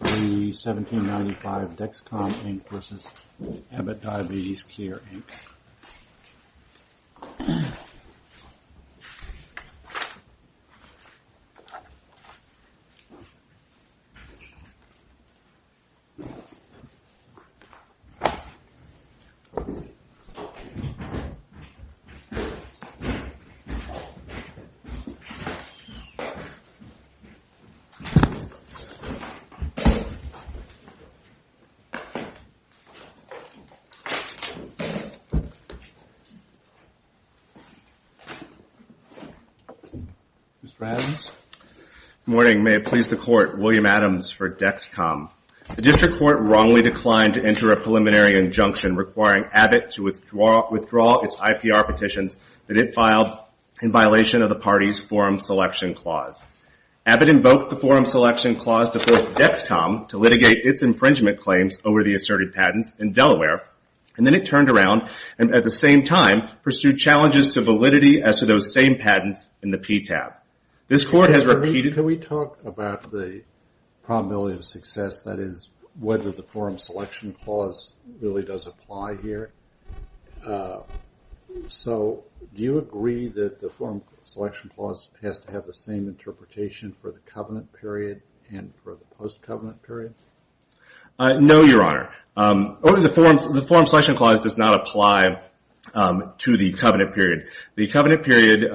The 1795 Dexcom, Inc. v. Abbott Diabetes Care, Inc. Good morning. May it please the Court, William Adams for Dexcom. The District Court wrongly declined to enter a preliminary injunction requiring Abbott to withdraw its IPR petitions that it filed in violation of the party's forum selection clause. Abbott invoked the Dexcom to litigate its infringement claims over the asserted patents in Delaware, and then it turned around and, at the same time, pursued challenges to validity as to those same patents in the PTAB. This Court has repeated- Can we talk about the probability of success, that is, whether the forum selection clause really does apply here? Do you agree that the forum selection clause has to have the same interpretation for the covenant period and for the post-covenant period? No, Your Honor. The forum selection clause does not apply to the covenant period. The covenant period,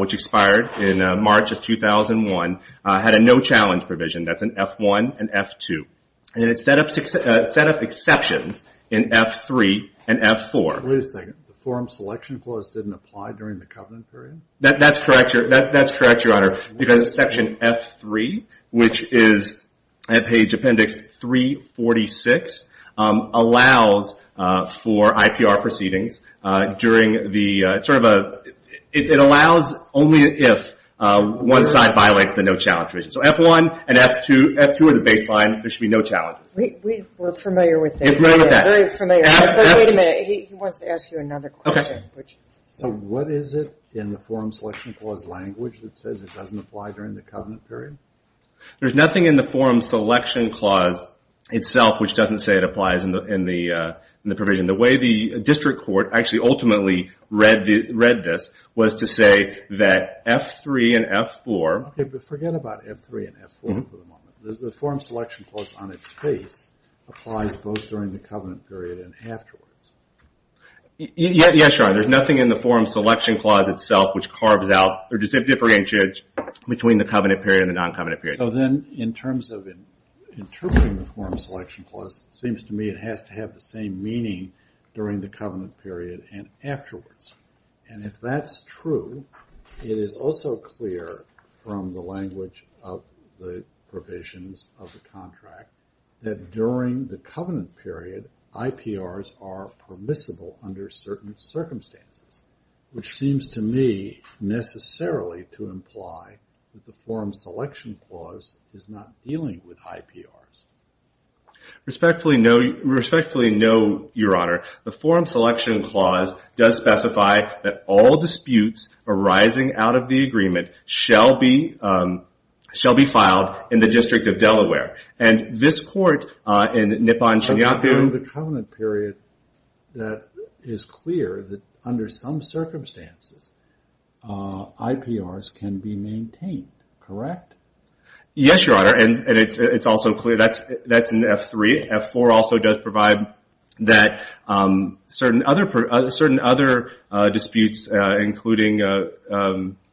which expired in March of 2001, had a no-challenge provision. That's an F-1 and F-2. It set up exceptions in F-3 and F-4. Wait a second. The forum selection clause didn't apply during the covenant period? That's correct, Your Honor, because Section F-3, which is at page Appendix 346, allows for IPR proceedings during the- It allows only if one side violates the no-challenge provision. So F-1 and F-2 are the baseline. There should be no challenges. We're familiar with that. You're familiar with that. Very familiar. But wait a minute. He wants to ask you another question. So what is it in the forum selection clause language that says it doesn't apply during the covenant period? There's nothing in the forum selection clause itself which doesn't say it applies in the provision. The way the district court actually ultimately read this was to say that F-3 and F-4- Okay, but forget about F-3 and F-4 for the moment. The forum selection clause on its face applies both during the covenant period and afterwards. Yes, Your Honor. There's nothing in the forum selection clause itself which carves out or differentiates between the covenant period and the non-covenant period. So then in terms of interpreting the forum selection clause, it seems to me it has to have the same meaning during the covenant period and afterwards. And if that's true, it is also clear from the language of the provisions of the contract that during the covenant period it is not permissible under certain circumstances, which seems to me necessarily to imply that the forum selection clause is not dealing with high PRs. Respectfully no, Your Honor. The forum selection clause does specify that all disputes arising out of the agreement shall be filed in the District of Delaware. And this court in Nippon in the covenant period that is clear that under some circumstances, IPRs can be maintained, correct? Yes, Your Honor. And it's also clear that's in F-3. F-4 also does provide that certain other disputes including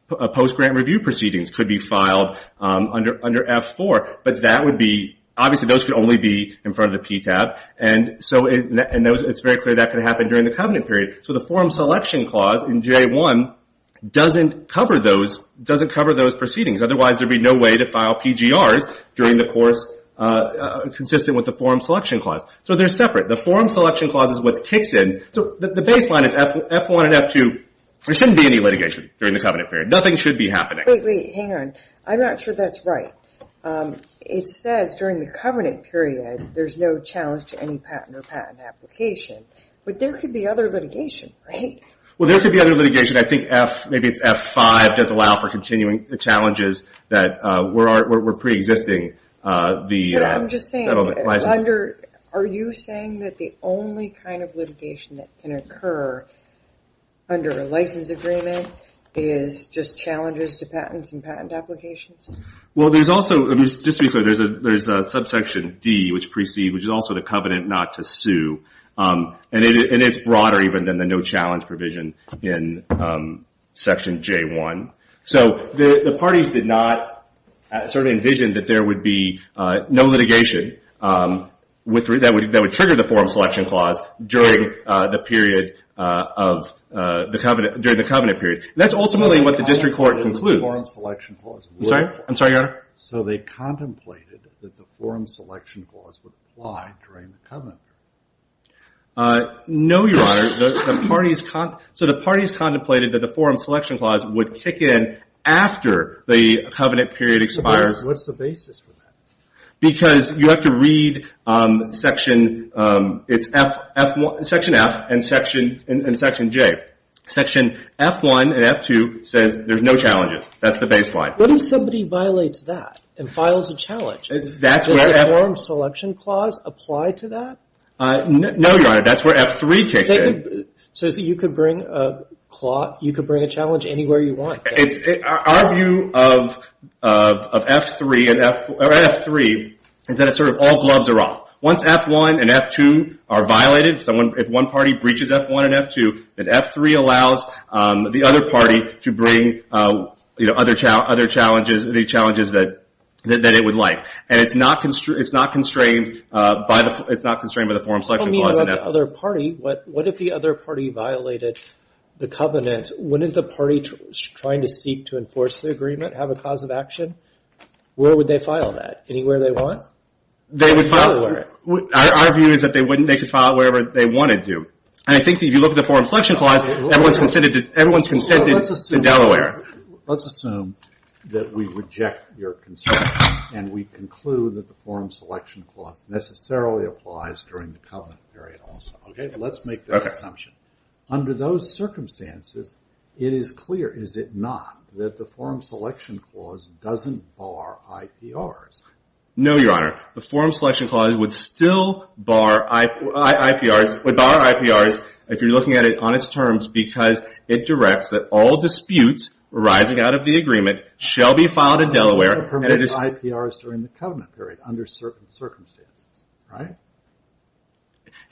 post-grant review proceedings could be filed under F-4. But obviously those could only be in front of the PTAB. And it's very clear that could happen during the covenant period. So the forum selection clause in J-1 doesn't cover those proceedings. Otherwise there would be no way to file PGRs during the course consistent with the forum selection clause. So they're separate. The forum selection clause is what kicks in. So the baseline is F-1 and F-2. There shouldn't be any litigation during the covenant period. Nothing should be happening. Wait, wait, hang on. I'm not sure that's right. It says during the covenant period there's no challenge to any patent or patent application. But there could be other litigation, right? Well, there could be other litigation. I think F, maybe it's F-5, does allow for continuing the challenges that were pre-existing the settlement. Are you saying that the only kind of litigation that can occur under a license agreement is just challenges to patents and patent applications? Well, there's also, just to be clear, there's a subsection D, which is also the covenant not to sue. And it's broader even than the no challenge provision in section J-1. So the parties did not sort of envision that there would be no litigation that would trigger the forum selection clause during the covenant period. That's ultimately what they're saying. So they contemplated that the forum selection clause would apply during the covenant period. No, Your Honor. So the parties contemplated that the forum selection clause would kick in after the covenant period expires. What's the basis for that? Because you have to read section F and section J. Section F-1 and F-2 says that the forum selection clause applies to that. And there's no challenges. That's the baseline. What if somebody violates that and files a challenge? Does the forum selection clause apply to that? No, Your Honor. That's where F-3 kicks in. So you could bring a challenge anywhere you want. Our view of F-3 is that all gloves are off. Once F-1 and F-2 are violated, if one party breaches F-1 and F-2, then F-3 allows the other party to bring other challenges that it would like. And it's not constrained by the forum selection clause in F-3. What if the other party violated the covenant? Wouldn't the party trying to seek to enforce the agreement have a cause of action? Where would they file that? Anywhere they want? They would file it. Our view is that they could file it wherever they want to do. And I think if you look at the forum selection clause, everyone's consented to Delaware. Let's assume that we reject your concern and we conclude that the forum selection clause necessarily applies during the covenant period also. Let's make that assumption. Under those circumstances, it is clear, is it not, that the forum selection clause doesn't bar IPRs? No, Your Honor. The forum selection clause would still bar IPRs if you're looking at it on its terms because it directs that all disputes arising out of the agreement shall be filed in Delaware. But it doesn't permit IPRs during the covenant period under certain circumstances, right?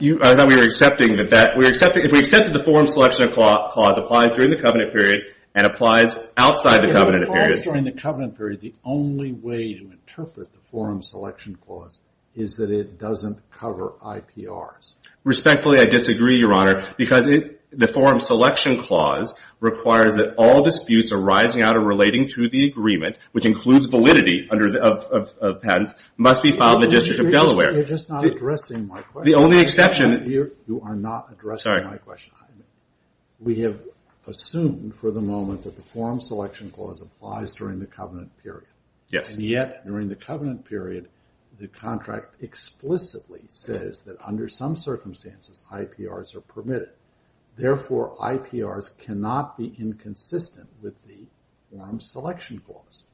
I thought we were accepting that that, if we accept that the forum selection clause applies during the covenant period and applies outside the covenant period. If it applies during the covenant period, the only way to interpret the forum selection clause is that it doesn't cover IPRs. Respectfully, I disagree, Your Honor, because the forum selection clause requires that all disputes arising out of relating to the agreement, which includes validity of patents, must be filed in the District of Delaware. You're just not addressing my question. The only exception. You are not addressing my question. We have assumed for the moment that the forum selection clause applies during the covenant period. Yes. And yet, during the covenant period, the contract explicitly says that under some circumstances IPRs are permitted. Therefore, IPRs cannot be inconsistent with the forum selection clause.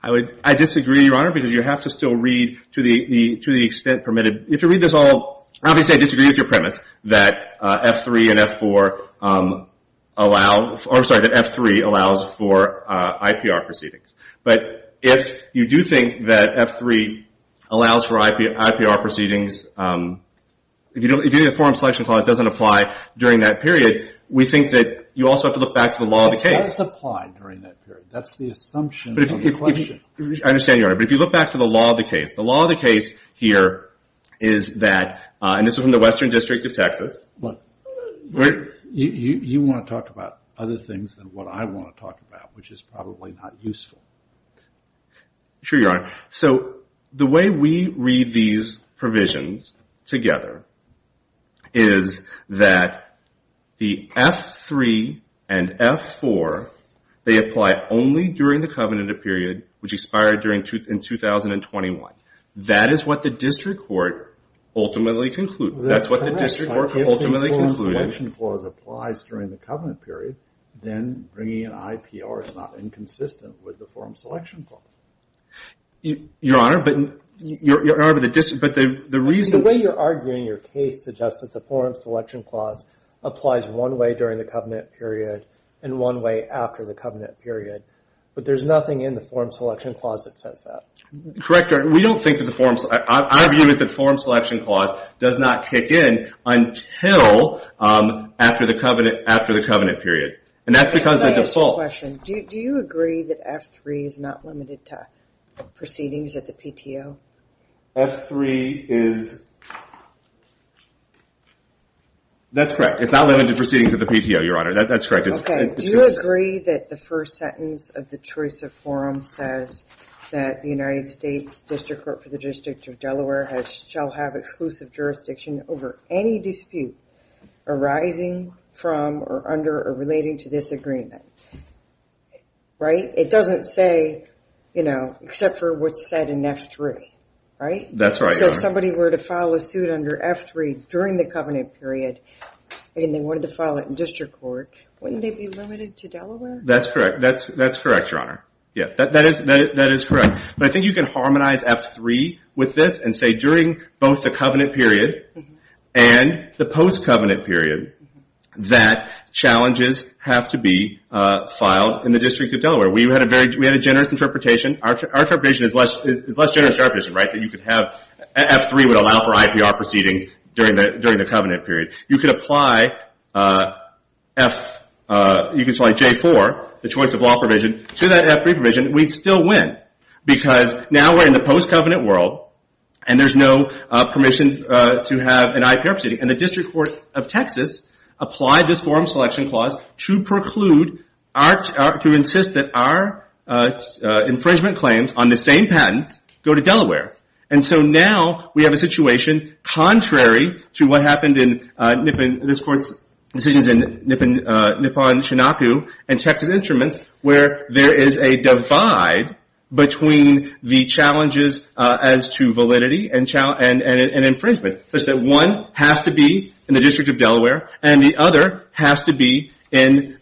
I disagree, Your Honor, because you have to still read to the extent permitted. If you read this all, obviously I disagree with your premise that F3 and F4 allow, or IPR proceedings. But if you do think that F3 allows for IPR proceedings, if the forum selection clause doesn't apply during that period, we think that you also have to look back to the law of the case. It does apply during that period. That's the assumption of the question. I understand, Your Honor, but if you look back to the law of the case, the law of the case here is that, and this is from the Western District of Texas. You want to talk about other things than what I want to talk about, which is probably not useful. Sure, Your Honor. So the way we read these provisions together is that the F3 and F4, they apply only during the covenant period, which expired in 2021. That is what the district court ultimately concluded. That's correct. That's what the district court ultimately concluded. If the forum selection clause applies during the covenant period, then bringing in IPR is not inconsistent with the forum selection clause. Your Honor, but the reason... The way you're arguing your case suggests that the forum selection clause applies one way during the covenant period and one way after the covenant period. But there's nothing in the forum selection clause that says that. Correct, Your Honor. We don't think that the forum... Our view is that the forum selection clause does not kick in until after the covenant period. And that's because the default... Can I ask you a question? Do you agree that F3 is not limited to proceedings at the PTO? F3 is... That's correct. It's not limited to proceedings at the PTO, Your Honor. That's correct. Okay. Do you agree that the first sentence of the choice of forum says that the United States District Court for the District of Delaware shall have exclusive jurisdiction over any dispute arising from or under or relating to this agreement? Right? It doesn't say, you know, except for what's said in F3, right? That's right, Your Honor. So if somebody were to file a suit under F3 during the covenant period and they wanted to file it in district court, wouldn't they be limited to Delaware? That's correct. That's correct, Your Honor. Yeah. That is correct. But I think you can harmonize F3 with this and say during both the covenant period and the post-covenant period that challenges have to be filed in the District of Delaware. We had a very... We had a generous interpretation. Our interpretation is less generous interpretation, right? That you could have... F3 would allow for IPR proceedings during the covenant period. You could apply F... You could apply J4, the choice of law provision, to that F3 provision. We'd still win because now we're in the post-covenant world and there's no permission to have an IPR proceeding. And the District Court of Texas applied this forum selection clause to preclude, to insist that our infringement claims on the same patents go to Delaware. And so now we have a situation contrary to what happened in Nippon... This court's decisions in Nippon-Chinookoo and Texas Instruments where there is a divide between the challenges as to validity and infringement. One has to be in the District of Delaware and the other has to be in...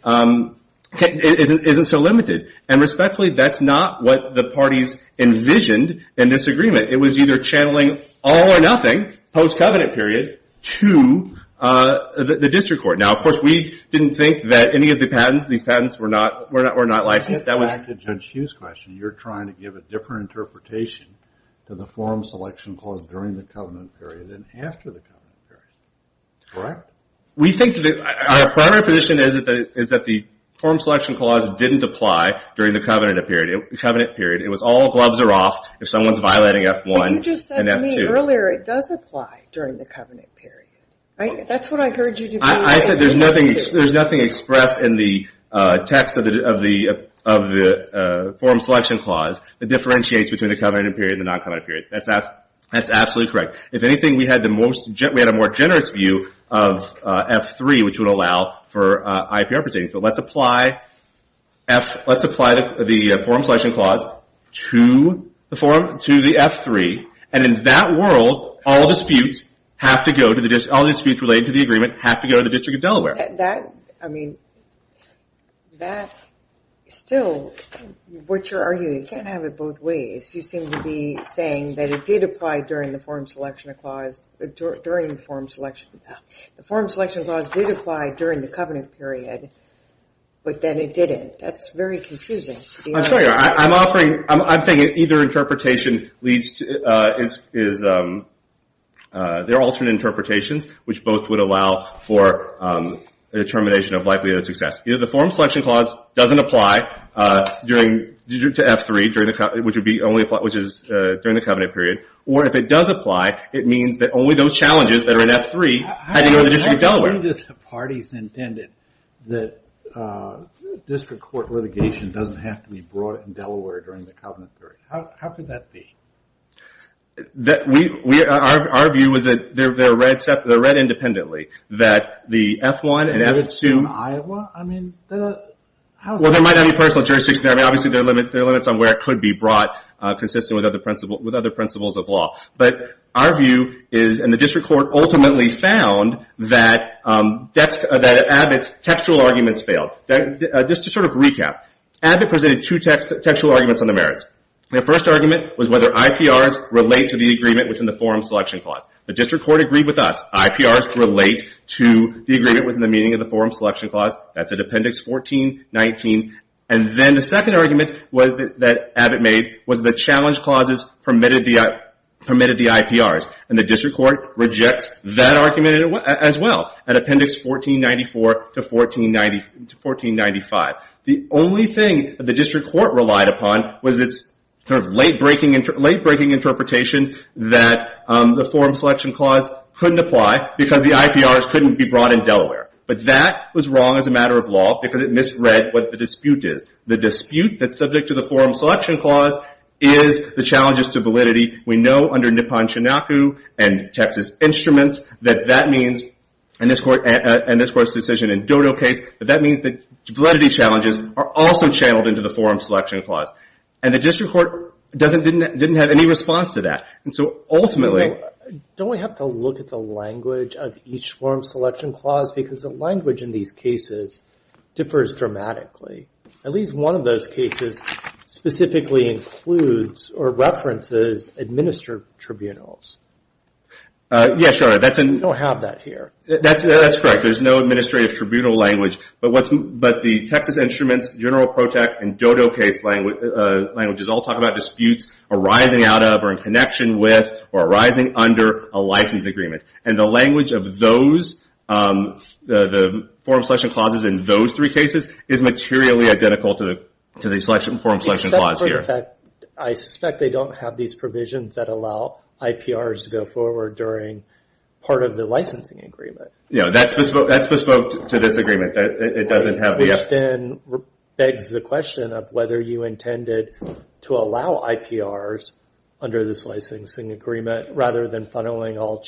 Isn't so limited. And respectfully, that's not what the parties envisioned in this agreement. It was either channeling all or nothing, post-covenant period, to the District Court. Now, of course, we didn't think that any of the patents, these patents, were not licensed. That was... Back to Judge Hughes' question. You're trying to give a different interpretation to the forum selection clause during the covenant period than after the covenant period. Correct? Our primary position is that the forum selection clause didn't apply during the covenant period. It was all gloves are off if someone's violating F1 and F2. But you just said to me earlier it does apply during the covenant period. That's what I heard you... I said there's nothing expressed in the text of the forum selection clause that differentiates between the covenant period and the non-covenant period. That's absolutely correct. If anything, we had a more generous view of F3, which would allow for IPR proceedings. But let's apply the forum selection clause to the F3. And in that world, all the disputes related to the agreement have to go to the District of Delaware. That... I mean, that... Still, what you're arguing, you can't have it both ways. You seem to be saying that it did apply during the forum selection clause... During the forum selection... The forum selection clause did apply during the covenant period, but then it didn't. That's very confusing. I'm offering... I'm saying either interpretation leads to... There are alternate interpretations, which both would allow for determination of likelihood of success. Either the forum selection clause doesn't apply to F3, which is during the covenant period, or if it does apply, it means that only those challenges that are in F3 have to go to the District of Delaware. How do you disagree that the parties intended that district court litigation doesn't have to be brought in Delaware during the covenant period? How could that be? Our view is that they're read independently, that the F1 and F2... Well, there might not be personal jurisdiction there. I mean, obviously, there are limits on where it could be brought, consistent with other principles of law. But our view is, and the district court ultimately found, that Abbott's textual arguments failed. Just to sort of recap, Abbott presented two textual arguments on the merits. The first argument was whether IPRs relate to the agreement within the forum selection clause. The district court agreed with us. IPRs relate to the agreement within the meaning of the forum selection clause. That's at Appendix 1419. And then the second argument that Abbott made was the challenge clauses permitted the IPRs. And the district court rejects that argument as well at Appendix 1494 to 1495. The only thing that the district court relied upon was its sort of late-breaking interpretation that the forum selection clause couldn't apply because the IPRs couldn't be brought in Delaware. But that was wrong as a matter of law because it misread what the dispute is. The dispute that's subject to the forum selection clause is the challenges to validity. We know under Nippon-Chinaku and Texas Instruments that that means, and this court's decision in Dodo case, that that means that validity challenges are also channeled into the forum selection clause. And the district court didn't have any response to that. And so ultimately... Because the language in these cases differs dramatically. At least one of those cases specifically includes or references administered tribunals. Yeah, sure. We don't have that here. That's correct. There's no administrative tribunal language. But the Texas Instruments, General Protect, and Dodo case languages all talk about disputes arising out of or in connection with or arising under a license agreement. And the language of those, the forum selection clauses in those three cases, is materially identical to the forum selection clause here. I suspect they don't have these provisions that allow IPRs to go forward during part of the licensing agreement. Yeah, that's bespoke to this agreement. It doesn't have the... Which then begs the question of whether you intended to allow IPRs under this licensing agreement rather than funneling all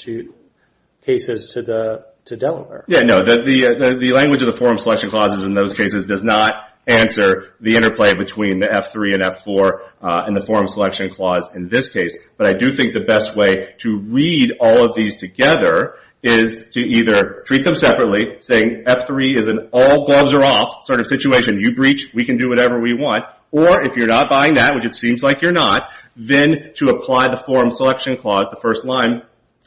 cases to Delaware. Yeah, no. The language of the forum selection clauses in those cases does not answer the interplay between the F3 and F4 and the forum selection clause in this case. But I do think the best way to read all of these together is to either treat them separately, saying F3 is an all gloves are off sort of situation. You breach, we can do whatever we want. Or if you're not buying that, which it seems like you're not, then to apply the forum selection clause, the first line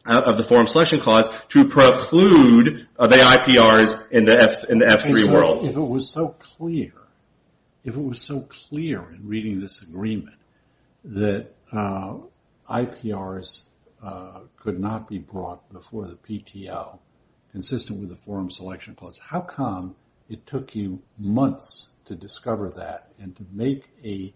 of the forum selection clause, to preclude the IPRs in the F3 world. If it was so clear, if it was so clear in reading this agreement, that IPRs could not be brought before the PTO consistent with the forum selection clause, how come it took you months to discover that and to make a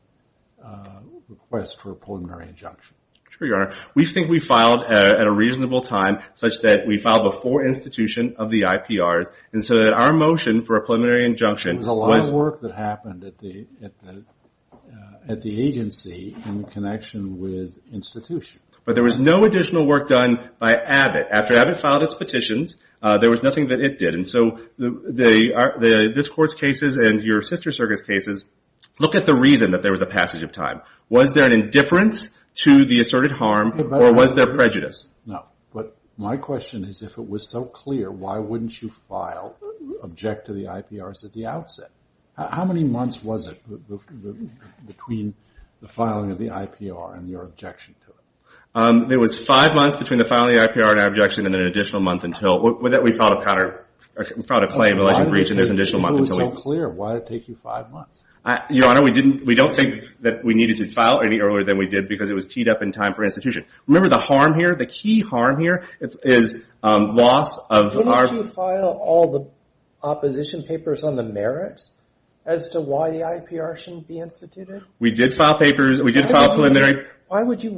request for a preliminary injunction? Sure, Your Honor. We think we filed at a reasonable time such that we filed before institution of the IPRs and so that our motion for a preliminary injunction was... It was a lot of work that happened at the agency in connection with institution. But there was no additional work done by Abbott. After Abbott filed its petitions, there was nothing that it did. And so this court's cases and your sister circuit's cases, look at the reason that there was a passage of time. Was there an indifference to the asserted harm or was there prejudice? No. But my question is if it was so clear, why wouldn't you file, object to the IPRs at the outset? How many months was it between the filing of the IPR and your objection to it? It was five months between the filing of the IPR and our objection and then an additional month until we filed a claim and alleged breach. And there's an additional month until we... If it was so clear, why did it take you five months? Your Honor, we don't think that we needed to file any earlier than we did because it was teed up in time for institution. Remember the harm here, the key harm here is loss of our... Didn't you file all the opposition papers on the merits as to why the IPR shouldn't be instituted? We did file papers. We did file preliminary... Ultimately,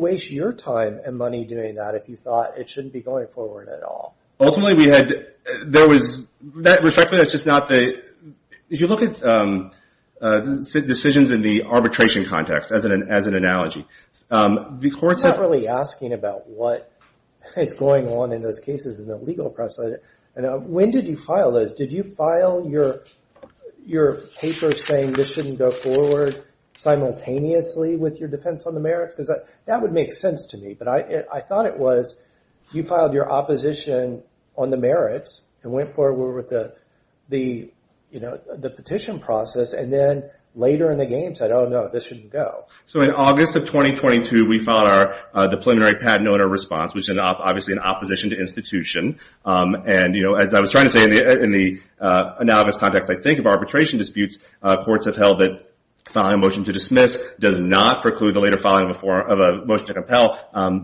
we had... There was... Respectfully, that's just not the... If you look at decisions in the arbitration context as an analogy, the courts... I'm not really asking about what is going on in those cases in the legal press. When did you file those? Did you file your papers saying this shouldn't go forward simultaneously with your defense on the merits? Because that would make sense to me. But I thought it was you filed your opposition on the merits and went forward with the petition process and then later in the game said, oh, no, this shouldn't go. So in August of 2022, we filed the preliminary patent owner response, which is obviously in opposition to institution. And as I was trying to say, in the analogous context I think of arbitration disputes, courts have held that filing a motion to dismiss does not preclude the later filing of a motion to compel.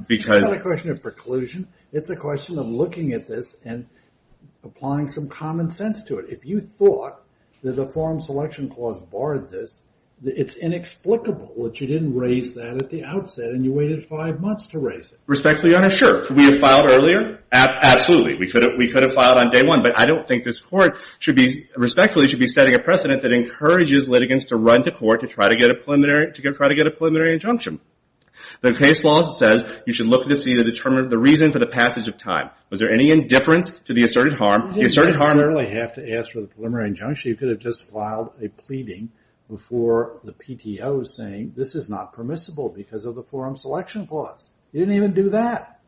Because... It's not a question of preclusion. It's a question of looking at this and applying some common sense to it. If you thought that the forum selection clause barred this, it's inexplicable that you didn't raise that at the outset and you waited five months to raise it. Respectfully, Your Honor, sure. Could we have filed earlier? Absolutely. We could have filed on day one. But I don't think this court should be... Respectfully, it should be setting a precedent that encourages litigants to run to court to try to get a preliminary injunction. The case law says you should look to see the reason for the passage of time. Was there any indifference to the asserted harm? You didn't necessarily have to ask for the preliminary injunction. You could have just filed a pleading before the PTO saying, this is not permissible because of the forum selection clause. You didn't even do that.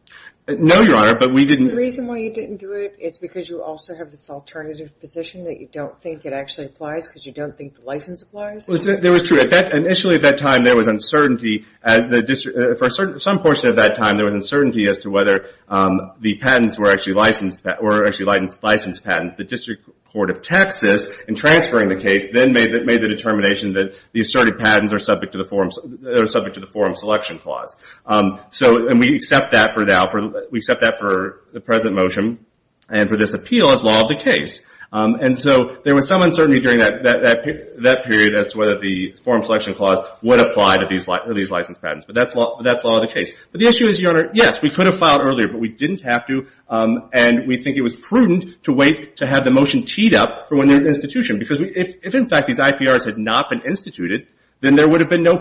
No, Your Honor, but we didn't... The reason why you didn't do it is because you also have this alternative position that you don't think it actually applies because you don't think the license applies? It was true. Initially, at that time, there was uncertainty. For some portion of that time, there was uncertainty as to whether the patents were actually licensed patents. The District Court of Texas, in transferring the case, then made the determination that the asserted patents are subject to the forum selection clause. And we accept that for the present motion and for this appeal as law of the case. And so there was some uncertainty during that period as to whether the forum selection clause would apply to these license patents. But that's law of the case. But the issue is, Your Honor, yes, we could have filed earlier, but we didn't have to. And we think it was prudent to wait to have the motion teed up for when there's institution. Because if, in fact, these IPRs had not been instituted, then there would have been no need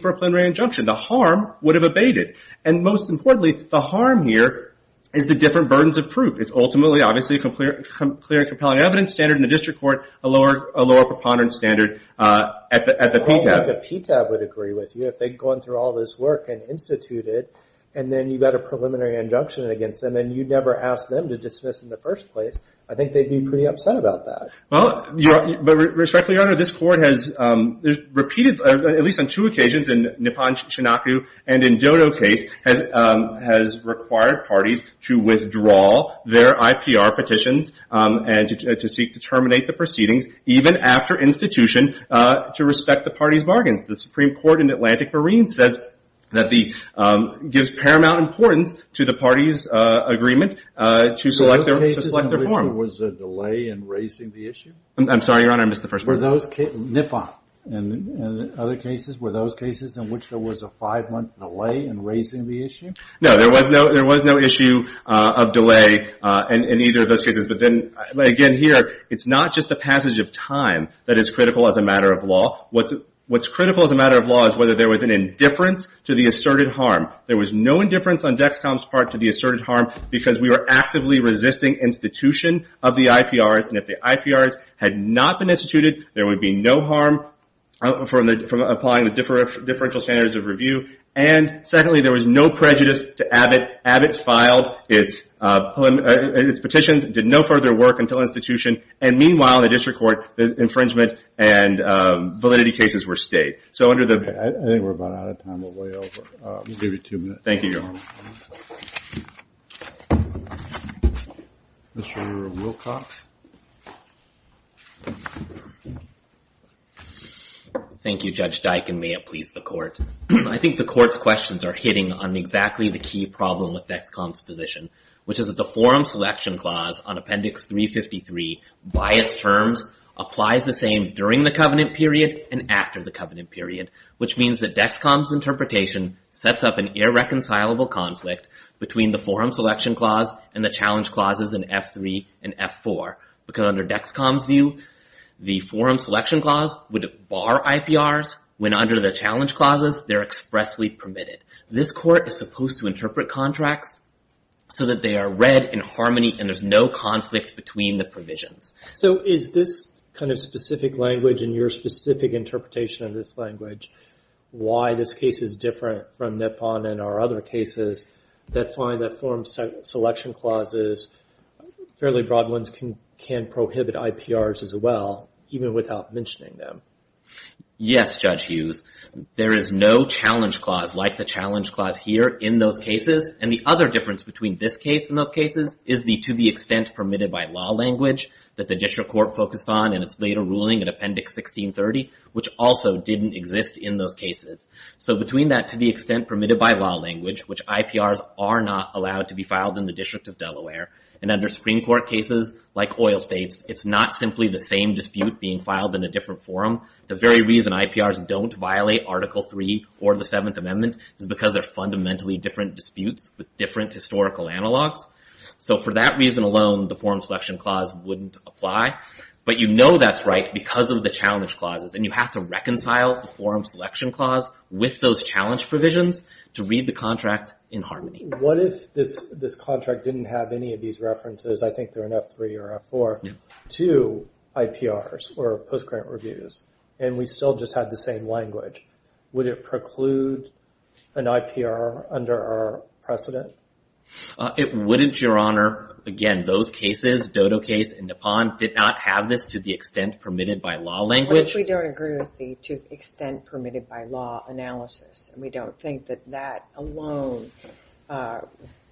for a preliminary injunction. The harm would have abated. And most importantly, the harm here is the different burdens of proof. It's ultimately, obviously, a clear and compelling evidence standard in the district court, a lower preponderance standard at the PTAB. I don't think the PTAB would agree with you. If they'd gone through all this work and instituted it, and then you got a preliminary injunction against them, and you never asked them to dismiss in the first place, I think they'd be pretty upset about that. Well, but respectfully, Your Honor, this court has repeated, at least on two occasions, in Nippon-Shinaku and in Dodo case, has required parties to withdraw their IPR petitions and to seek to terminate the proceedings, even after institution, to respect the party's bargains. The Supreme Court in Atlantic Marine says that the – gives paramount importance to the party's agreement to select their form. So those cases in which there was a delay in raising the issue? I'm sorry, Your Honor, I missed the first part. Were those – Nippon and other cases, were those cases in which there was a five-month delay in raising the issue? No, there was no issue of delay in either of those cases. But then, again, here, it's not just the passage of time that is critical as a matter of law. What's critical as a matter of law is whether there was an indifference to the asserted harm. There was no indifference on Dexcom's part to the asserted harm because we were actively resisting institution of the IPRs. And if the IPRs had not been instituted, there would be no harm from applying the differential standards of review. And secondly, there was no prejudice to Abbott. Abbott filed its petitions, did no further work until institution. And meanwhile, in the district court, the infringement and validity cases were stayed. So under the – I think we're about out of time. We're way over. We'll give you two minutes. Thank you, Your Honor. Mr. Wilcox. Thank you, Judge Dike, and may it please the court. I think the court's questions are hitting on exactly the key problem with Dexcom's position, which is that the forum selection clause on Appendix 353, by its terms, applies the same during the covenant period and after the covenant period, which means that Dexcom's interpretation sets up an irreconcilable conflict between the forum selection clause and the challenge clauses in F3 and F4. Because under Dexcom's view, the forum selection clause would bar IPRs when under the challenge clauses they're expressly permitted. This court is supposed to interpret contracts so that they are read in harmony and there's no conflict between the provisions. So is this kind of specific language and your specific interpretation of this language why this case is different from Nippon and our other cases that find that forum selection clauses, fairly broad ones, can prohibit IPRs as well, even without mentioning them? Yes, Judge Hughes. There is no challenge clause like the challenge clause here in those cases. And the other difference between this case and those cases is the to-the-extent-permitted-by-law language that the district court focused on in its later ruling in Appendix 1630, which also didn't exist in those cases. So between that to-the-extent-permitted-by-law language, which IPRs are not allowed to be filed in the District of Delaware, and under Supreme Court cases like oil states, it's not simply the same dispute being filed in a different forum. The very reason IPRs don't violate Article 3 or the 7th Amendment is because they're fundamentally different disputes with different historical analogs. So for that reason alone, the forum selection clause wouldn't apply. But you know that's right because of the challenge clauses, and you have to reconcile the forum selection clause with those challenge provisions to read the contract in harmony. What if this contract didn't have any of these references, I think they're in F3 or F4, to IPRs or post-grant reviews, and we still just had the same language? Would it preclude an IPR under our precedent? It wouldn't, Your Honor. Again, those cases, Dodo case and Nippon, did not have this to-the-extent-permitted-by-law language. What if we don't agree with the to-the-extent-permitted-by-law analysis, and we don't think that that alone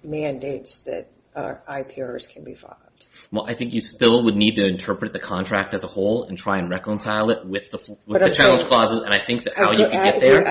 mandates that IPRs can be filed? Well, I think you still would need to interpret the contract as a whole and try and reconcile it with the challenge clauses, and I think that how you can get there...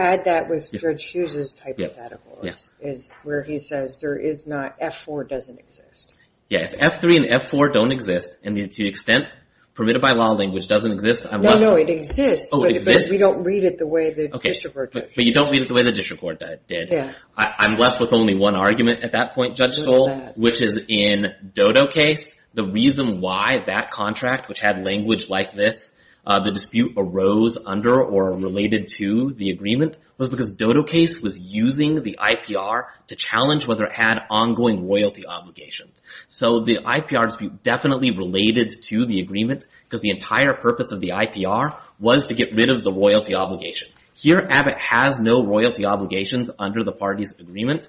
F4 doesn't exist. Yeah, if F3 and F4 don't exist, and the to-the-extent-permitted-by-law language doesn't exist, I'm left with... No, no, it exists, but we don't read it the way the district court did. But you don't read it the way the district court did. I'm left with only one argument at that point, Judge Stoll, which is in Dodo case, the reason why that contract, which had language like this, the dispute arose under or related to the agreement, was because Dodo case was using the IPR to challenge whether it had ongoing royalty obligations. So the IPR dispute definitely related to the agreement, because the entire purpose of the IPR was to get rid of the royalty obligation. Here, Abbott has no royalty obligations under the party's agreement,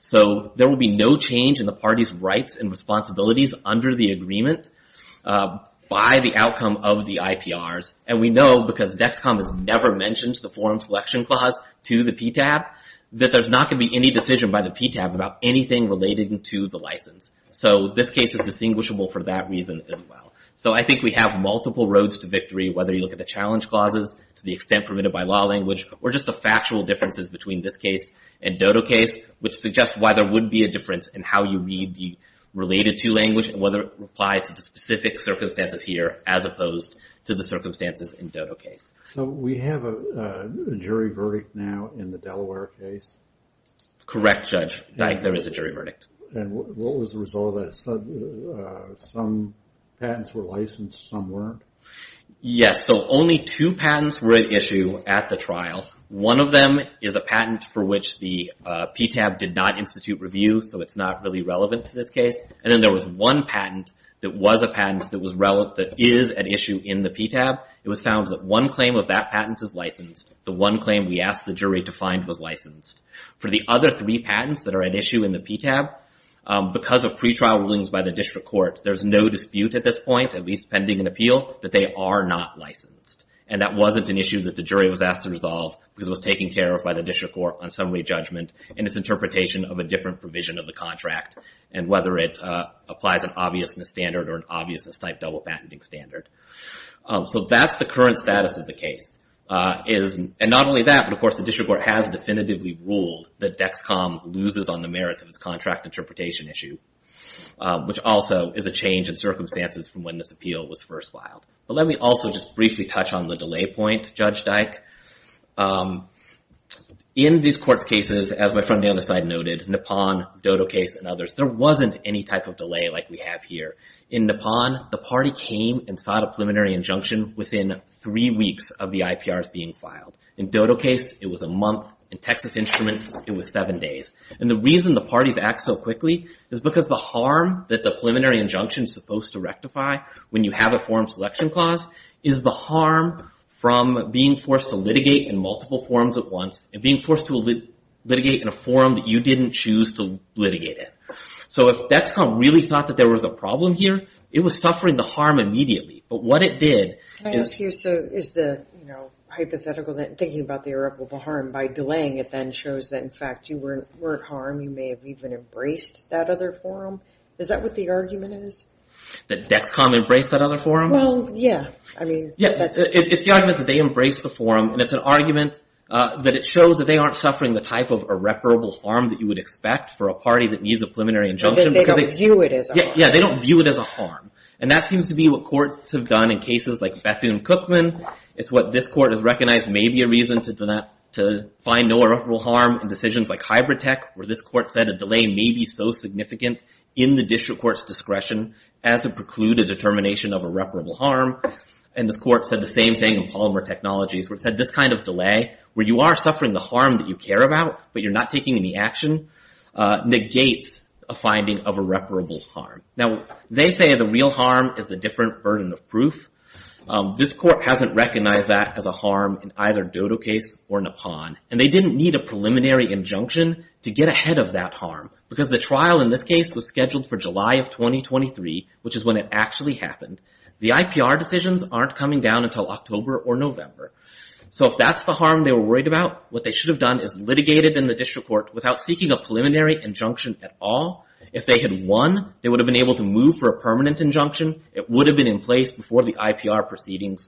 so there will be no change in the party's rights and responsibilities under the agreement by the outcome of the IPRs, and we know, because DEXCOM has never mentioned the forum selection clause to the PTAB, that there's not going to be any decision by the PTAB about anything related to the license. So this case is distinguishable for that reason as well. So I think we have multiple roads to victory, whether you look at the challenge clauses, to the extent-permitted-by-law language, or just the factual differences between this case and Dodo case, which suggests why there would be a difference in how you read the related-to language, and whether it applies to the specific circumstances here as opposed to the circumstances in Dodo case. So we have a jury verdict now in the Delaware case? Correct, Judge. There is a jury verdict. And what was the result of that? Some patents were licensed, some weren't? Yes, so only two patents were at issue at the trial. One of them is a patent for which the PTAB did not institute review, so it's not really relevant to this case. And then there was one patent that was a patent that is at issue in the PTAB. It was found that one claim of that patent is licensed. The one claim we asked the jury to find was licensed. For the other three patents that are at issue in the PTAB, because of pretrial rulings by the district court, there's no dispute at this point, at least pending an appeal, that they are not licensed. And that wasn't an issue that the jury was asked to resolve because it was taken care of by the district court on summary judgment in its interpretation of a different provision of the contract, and whether it applies an obviousness standard or an obviousness-type double patenting standard. So that's the current status of the case. And not only that, but of course the district court has definitively ruled that DEXCOM loses on the merits of its contract interpretation issue, which also is a change in circumstances from when this appeal was first filed. But let me also just briefly touch on the delay point, Judge Dyke. In these court's cases, as my friend on the other side noted, Nippon, Dodo Case, and others, there wasn't any type of delay like we have here. In Nippon, the party came and sought a preliminary injunction within three weeks of the IPRs being filed. In Dodo Case, it was a month. In Texas Instruments, it was seven days. And the reason the parties act so quickly is because the harm that the preliminary injunction is supposed to rectify when you have a forum selection clause is the harm from being forced to litigate in multiple forums at once and being forced to litigate in a forum that you didn't choose to litigate in. So if DEXCOM really thought that there was a problem here, it was suffering the harm immediately. But what it did is... Can I ask you, so is the hypothetical thinking about the irreparable harm by delaying it then shows that in fact you weren't harmed, you may have even embraced that other forum? Is that what the argument is? That DEXCOM embraced that other forum? Well, yeah. I mean... It's the argument that they embraced the forum, and it's an argument that it shows that they aren't suffering the type of irreparable harm that you would expect for a party that needs a preliminary injunction. They don't view it as a harm. Yeah, they don't view it as a harm. And that seems to be what courts have done in cases like Bethune-Cookman. It's what this court has recognized may be a reason to find no irreparable harm in decisions like Hybrid Tech, where this court said a delay may be so significant in the district court's discretion as to preclude a determination of irreparable harm. And this court said the same thing in Palmer Technologies, where it said this kind of delay, where you are suffering the harm that you care about, but you're not taking any action, negates a finding of irreparable harm. Now, they say the real harm is a different burden of proof. This court hasn't recognized that as a harm in either Dodo case or Nippon. And they didn't need a preliminary injunction to get ahead of that harm, because the trial in this case was scheduled for July of 2023, which is when it actually happened. The IPR decisions aren't coming down until October or November. So if that's the harm they were worried about, what they should have done is litigated in the district court without seeking a preliminary injunction at all. If they had won, they would have been able to move for a permanent injunction. It would have been in place before the IPR proceedings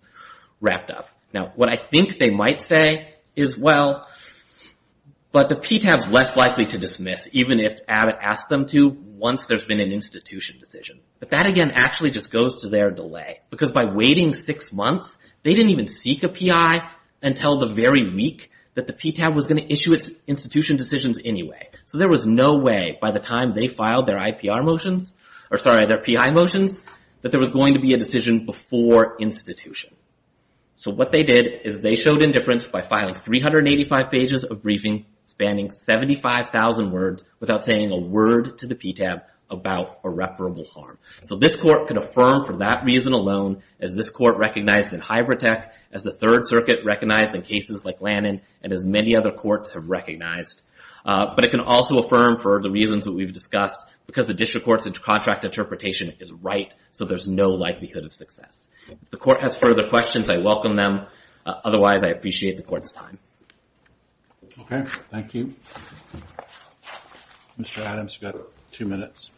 wrapped up. Now, what I think they might say is, well, but the PTAB's less likely to dismiss, even if Abbott asks them to, once there's been an institution decision. But that, again, actually just goes to their delay. Because by waiting six months, they didn't even seek a PI until the very week that the PTAB was going to issue its institution decisions anyway. So there was no way, by the time they filed their IPR motions, or sorry, their PI motions, that there was going to be a decision before institution. So what they did is they showed indifference by filing 385 pages of briefing, spanning 75,000 words, without saying a word to the PTAB about irreparable harm. So this court can affirm for that reason alone, as this court recognized in Hybertech, as the Third Circuit recognized in cases like Lannon, and as many other courts have recognized. But it can also affirm for the reasons that we've discussed, because the district court's contract interpretation is right, so there's no likelihood of success. If the court has further questions, I welcome them. Otherwise, I appreciate the court's time. Okay, thank you. Mr. Adams, you've got two minutes.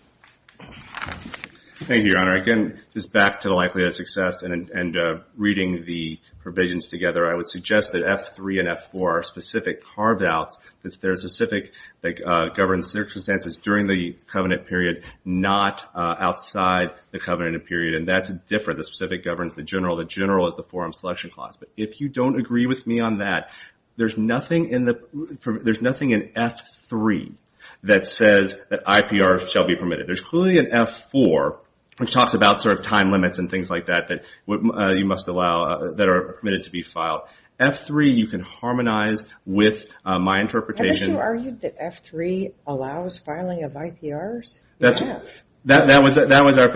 Thank you, Your Honor. Again, just back to the likelihood of success and reading the provisions together, I would suggest that F3 and F4 are specific carve-outs, that there's a specific that governs circumstances during the covenant period, not outside the covenant period. And that's different. The specific governs the general. The general is the forum selection clause. If you don't agree with me on that, there's nothing in F3 that says that IPRs shall be permitted. There's clearly an F4, which talks about time limits and things like that, that you must allow, that are permitted to be filed. F3, you can harmonize with my interpretation. Haven't you argued that F3 allows filing of IPRs? That was our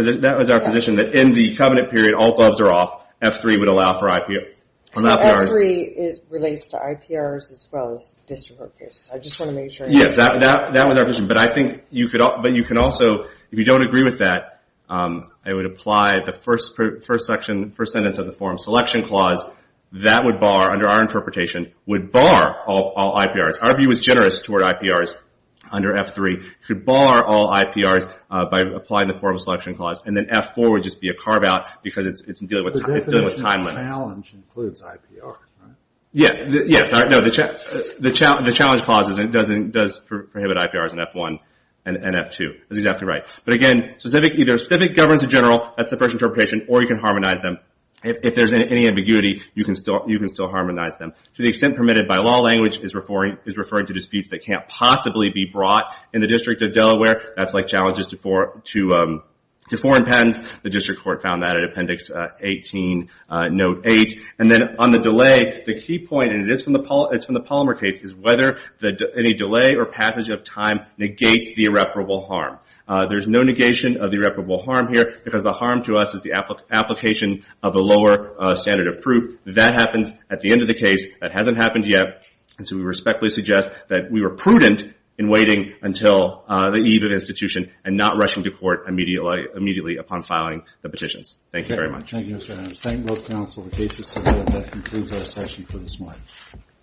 position, that in the covenant period, when all gloves are off, F3 would allow for IPRs. F3 relates to IPRs as well as district court cases. I just want to make sure. That was our position, but I think you could also, if you don't agree with that, I would apply the first sentence of the forum selection clause. That would bar, under our interpretation, would bar all IPRs. Our view is generous toward IPRs under F3. It could bar all IPRs by applying the forum selection clause. And then F4 would just be a carve-out, because it's dealing with time limits. The definition of challenge includes IPR, right? Yes. The challenge clause does prohibit IPRs in F1 and F2. That's exactly right. But again, either a specific governance in general, that's the first interpretation, or you can harmonize them. If there's any ambiguity, you can still harmonize them. To the extent permitted by law, language is referring to disputes that can't possibly be brought in the District of Delaware, that's like challenges to foreign patents. The District Court found that in Appendix 18, Note 8. And then on the delay, the key point, and it's from the Palmer case, is whether any delay or passage of time negates the irreparable harm. There's no negation of the irreparable harm here, because the harm to us is the application of the lower standard of proof. That happens at the end of the case. That hasn't happened yet. And so we respectfully suggest that we were prudent in waiting until the eve of institution and not rushing to court immediately upon filing the petitions. Thank you very much. Thank you, Mr. Adams. Thank both counsel for cases together. That concludes our session for this morning.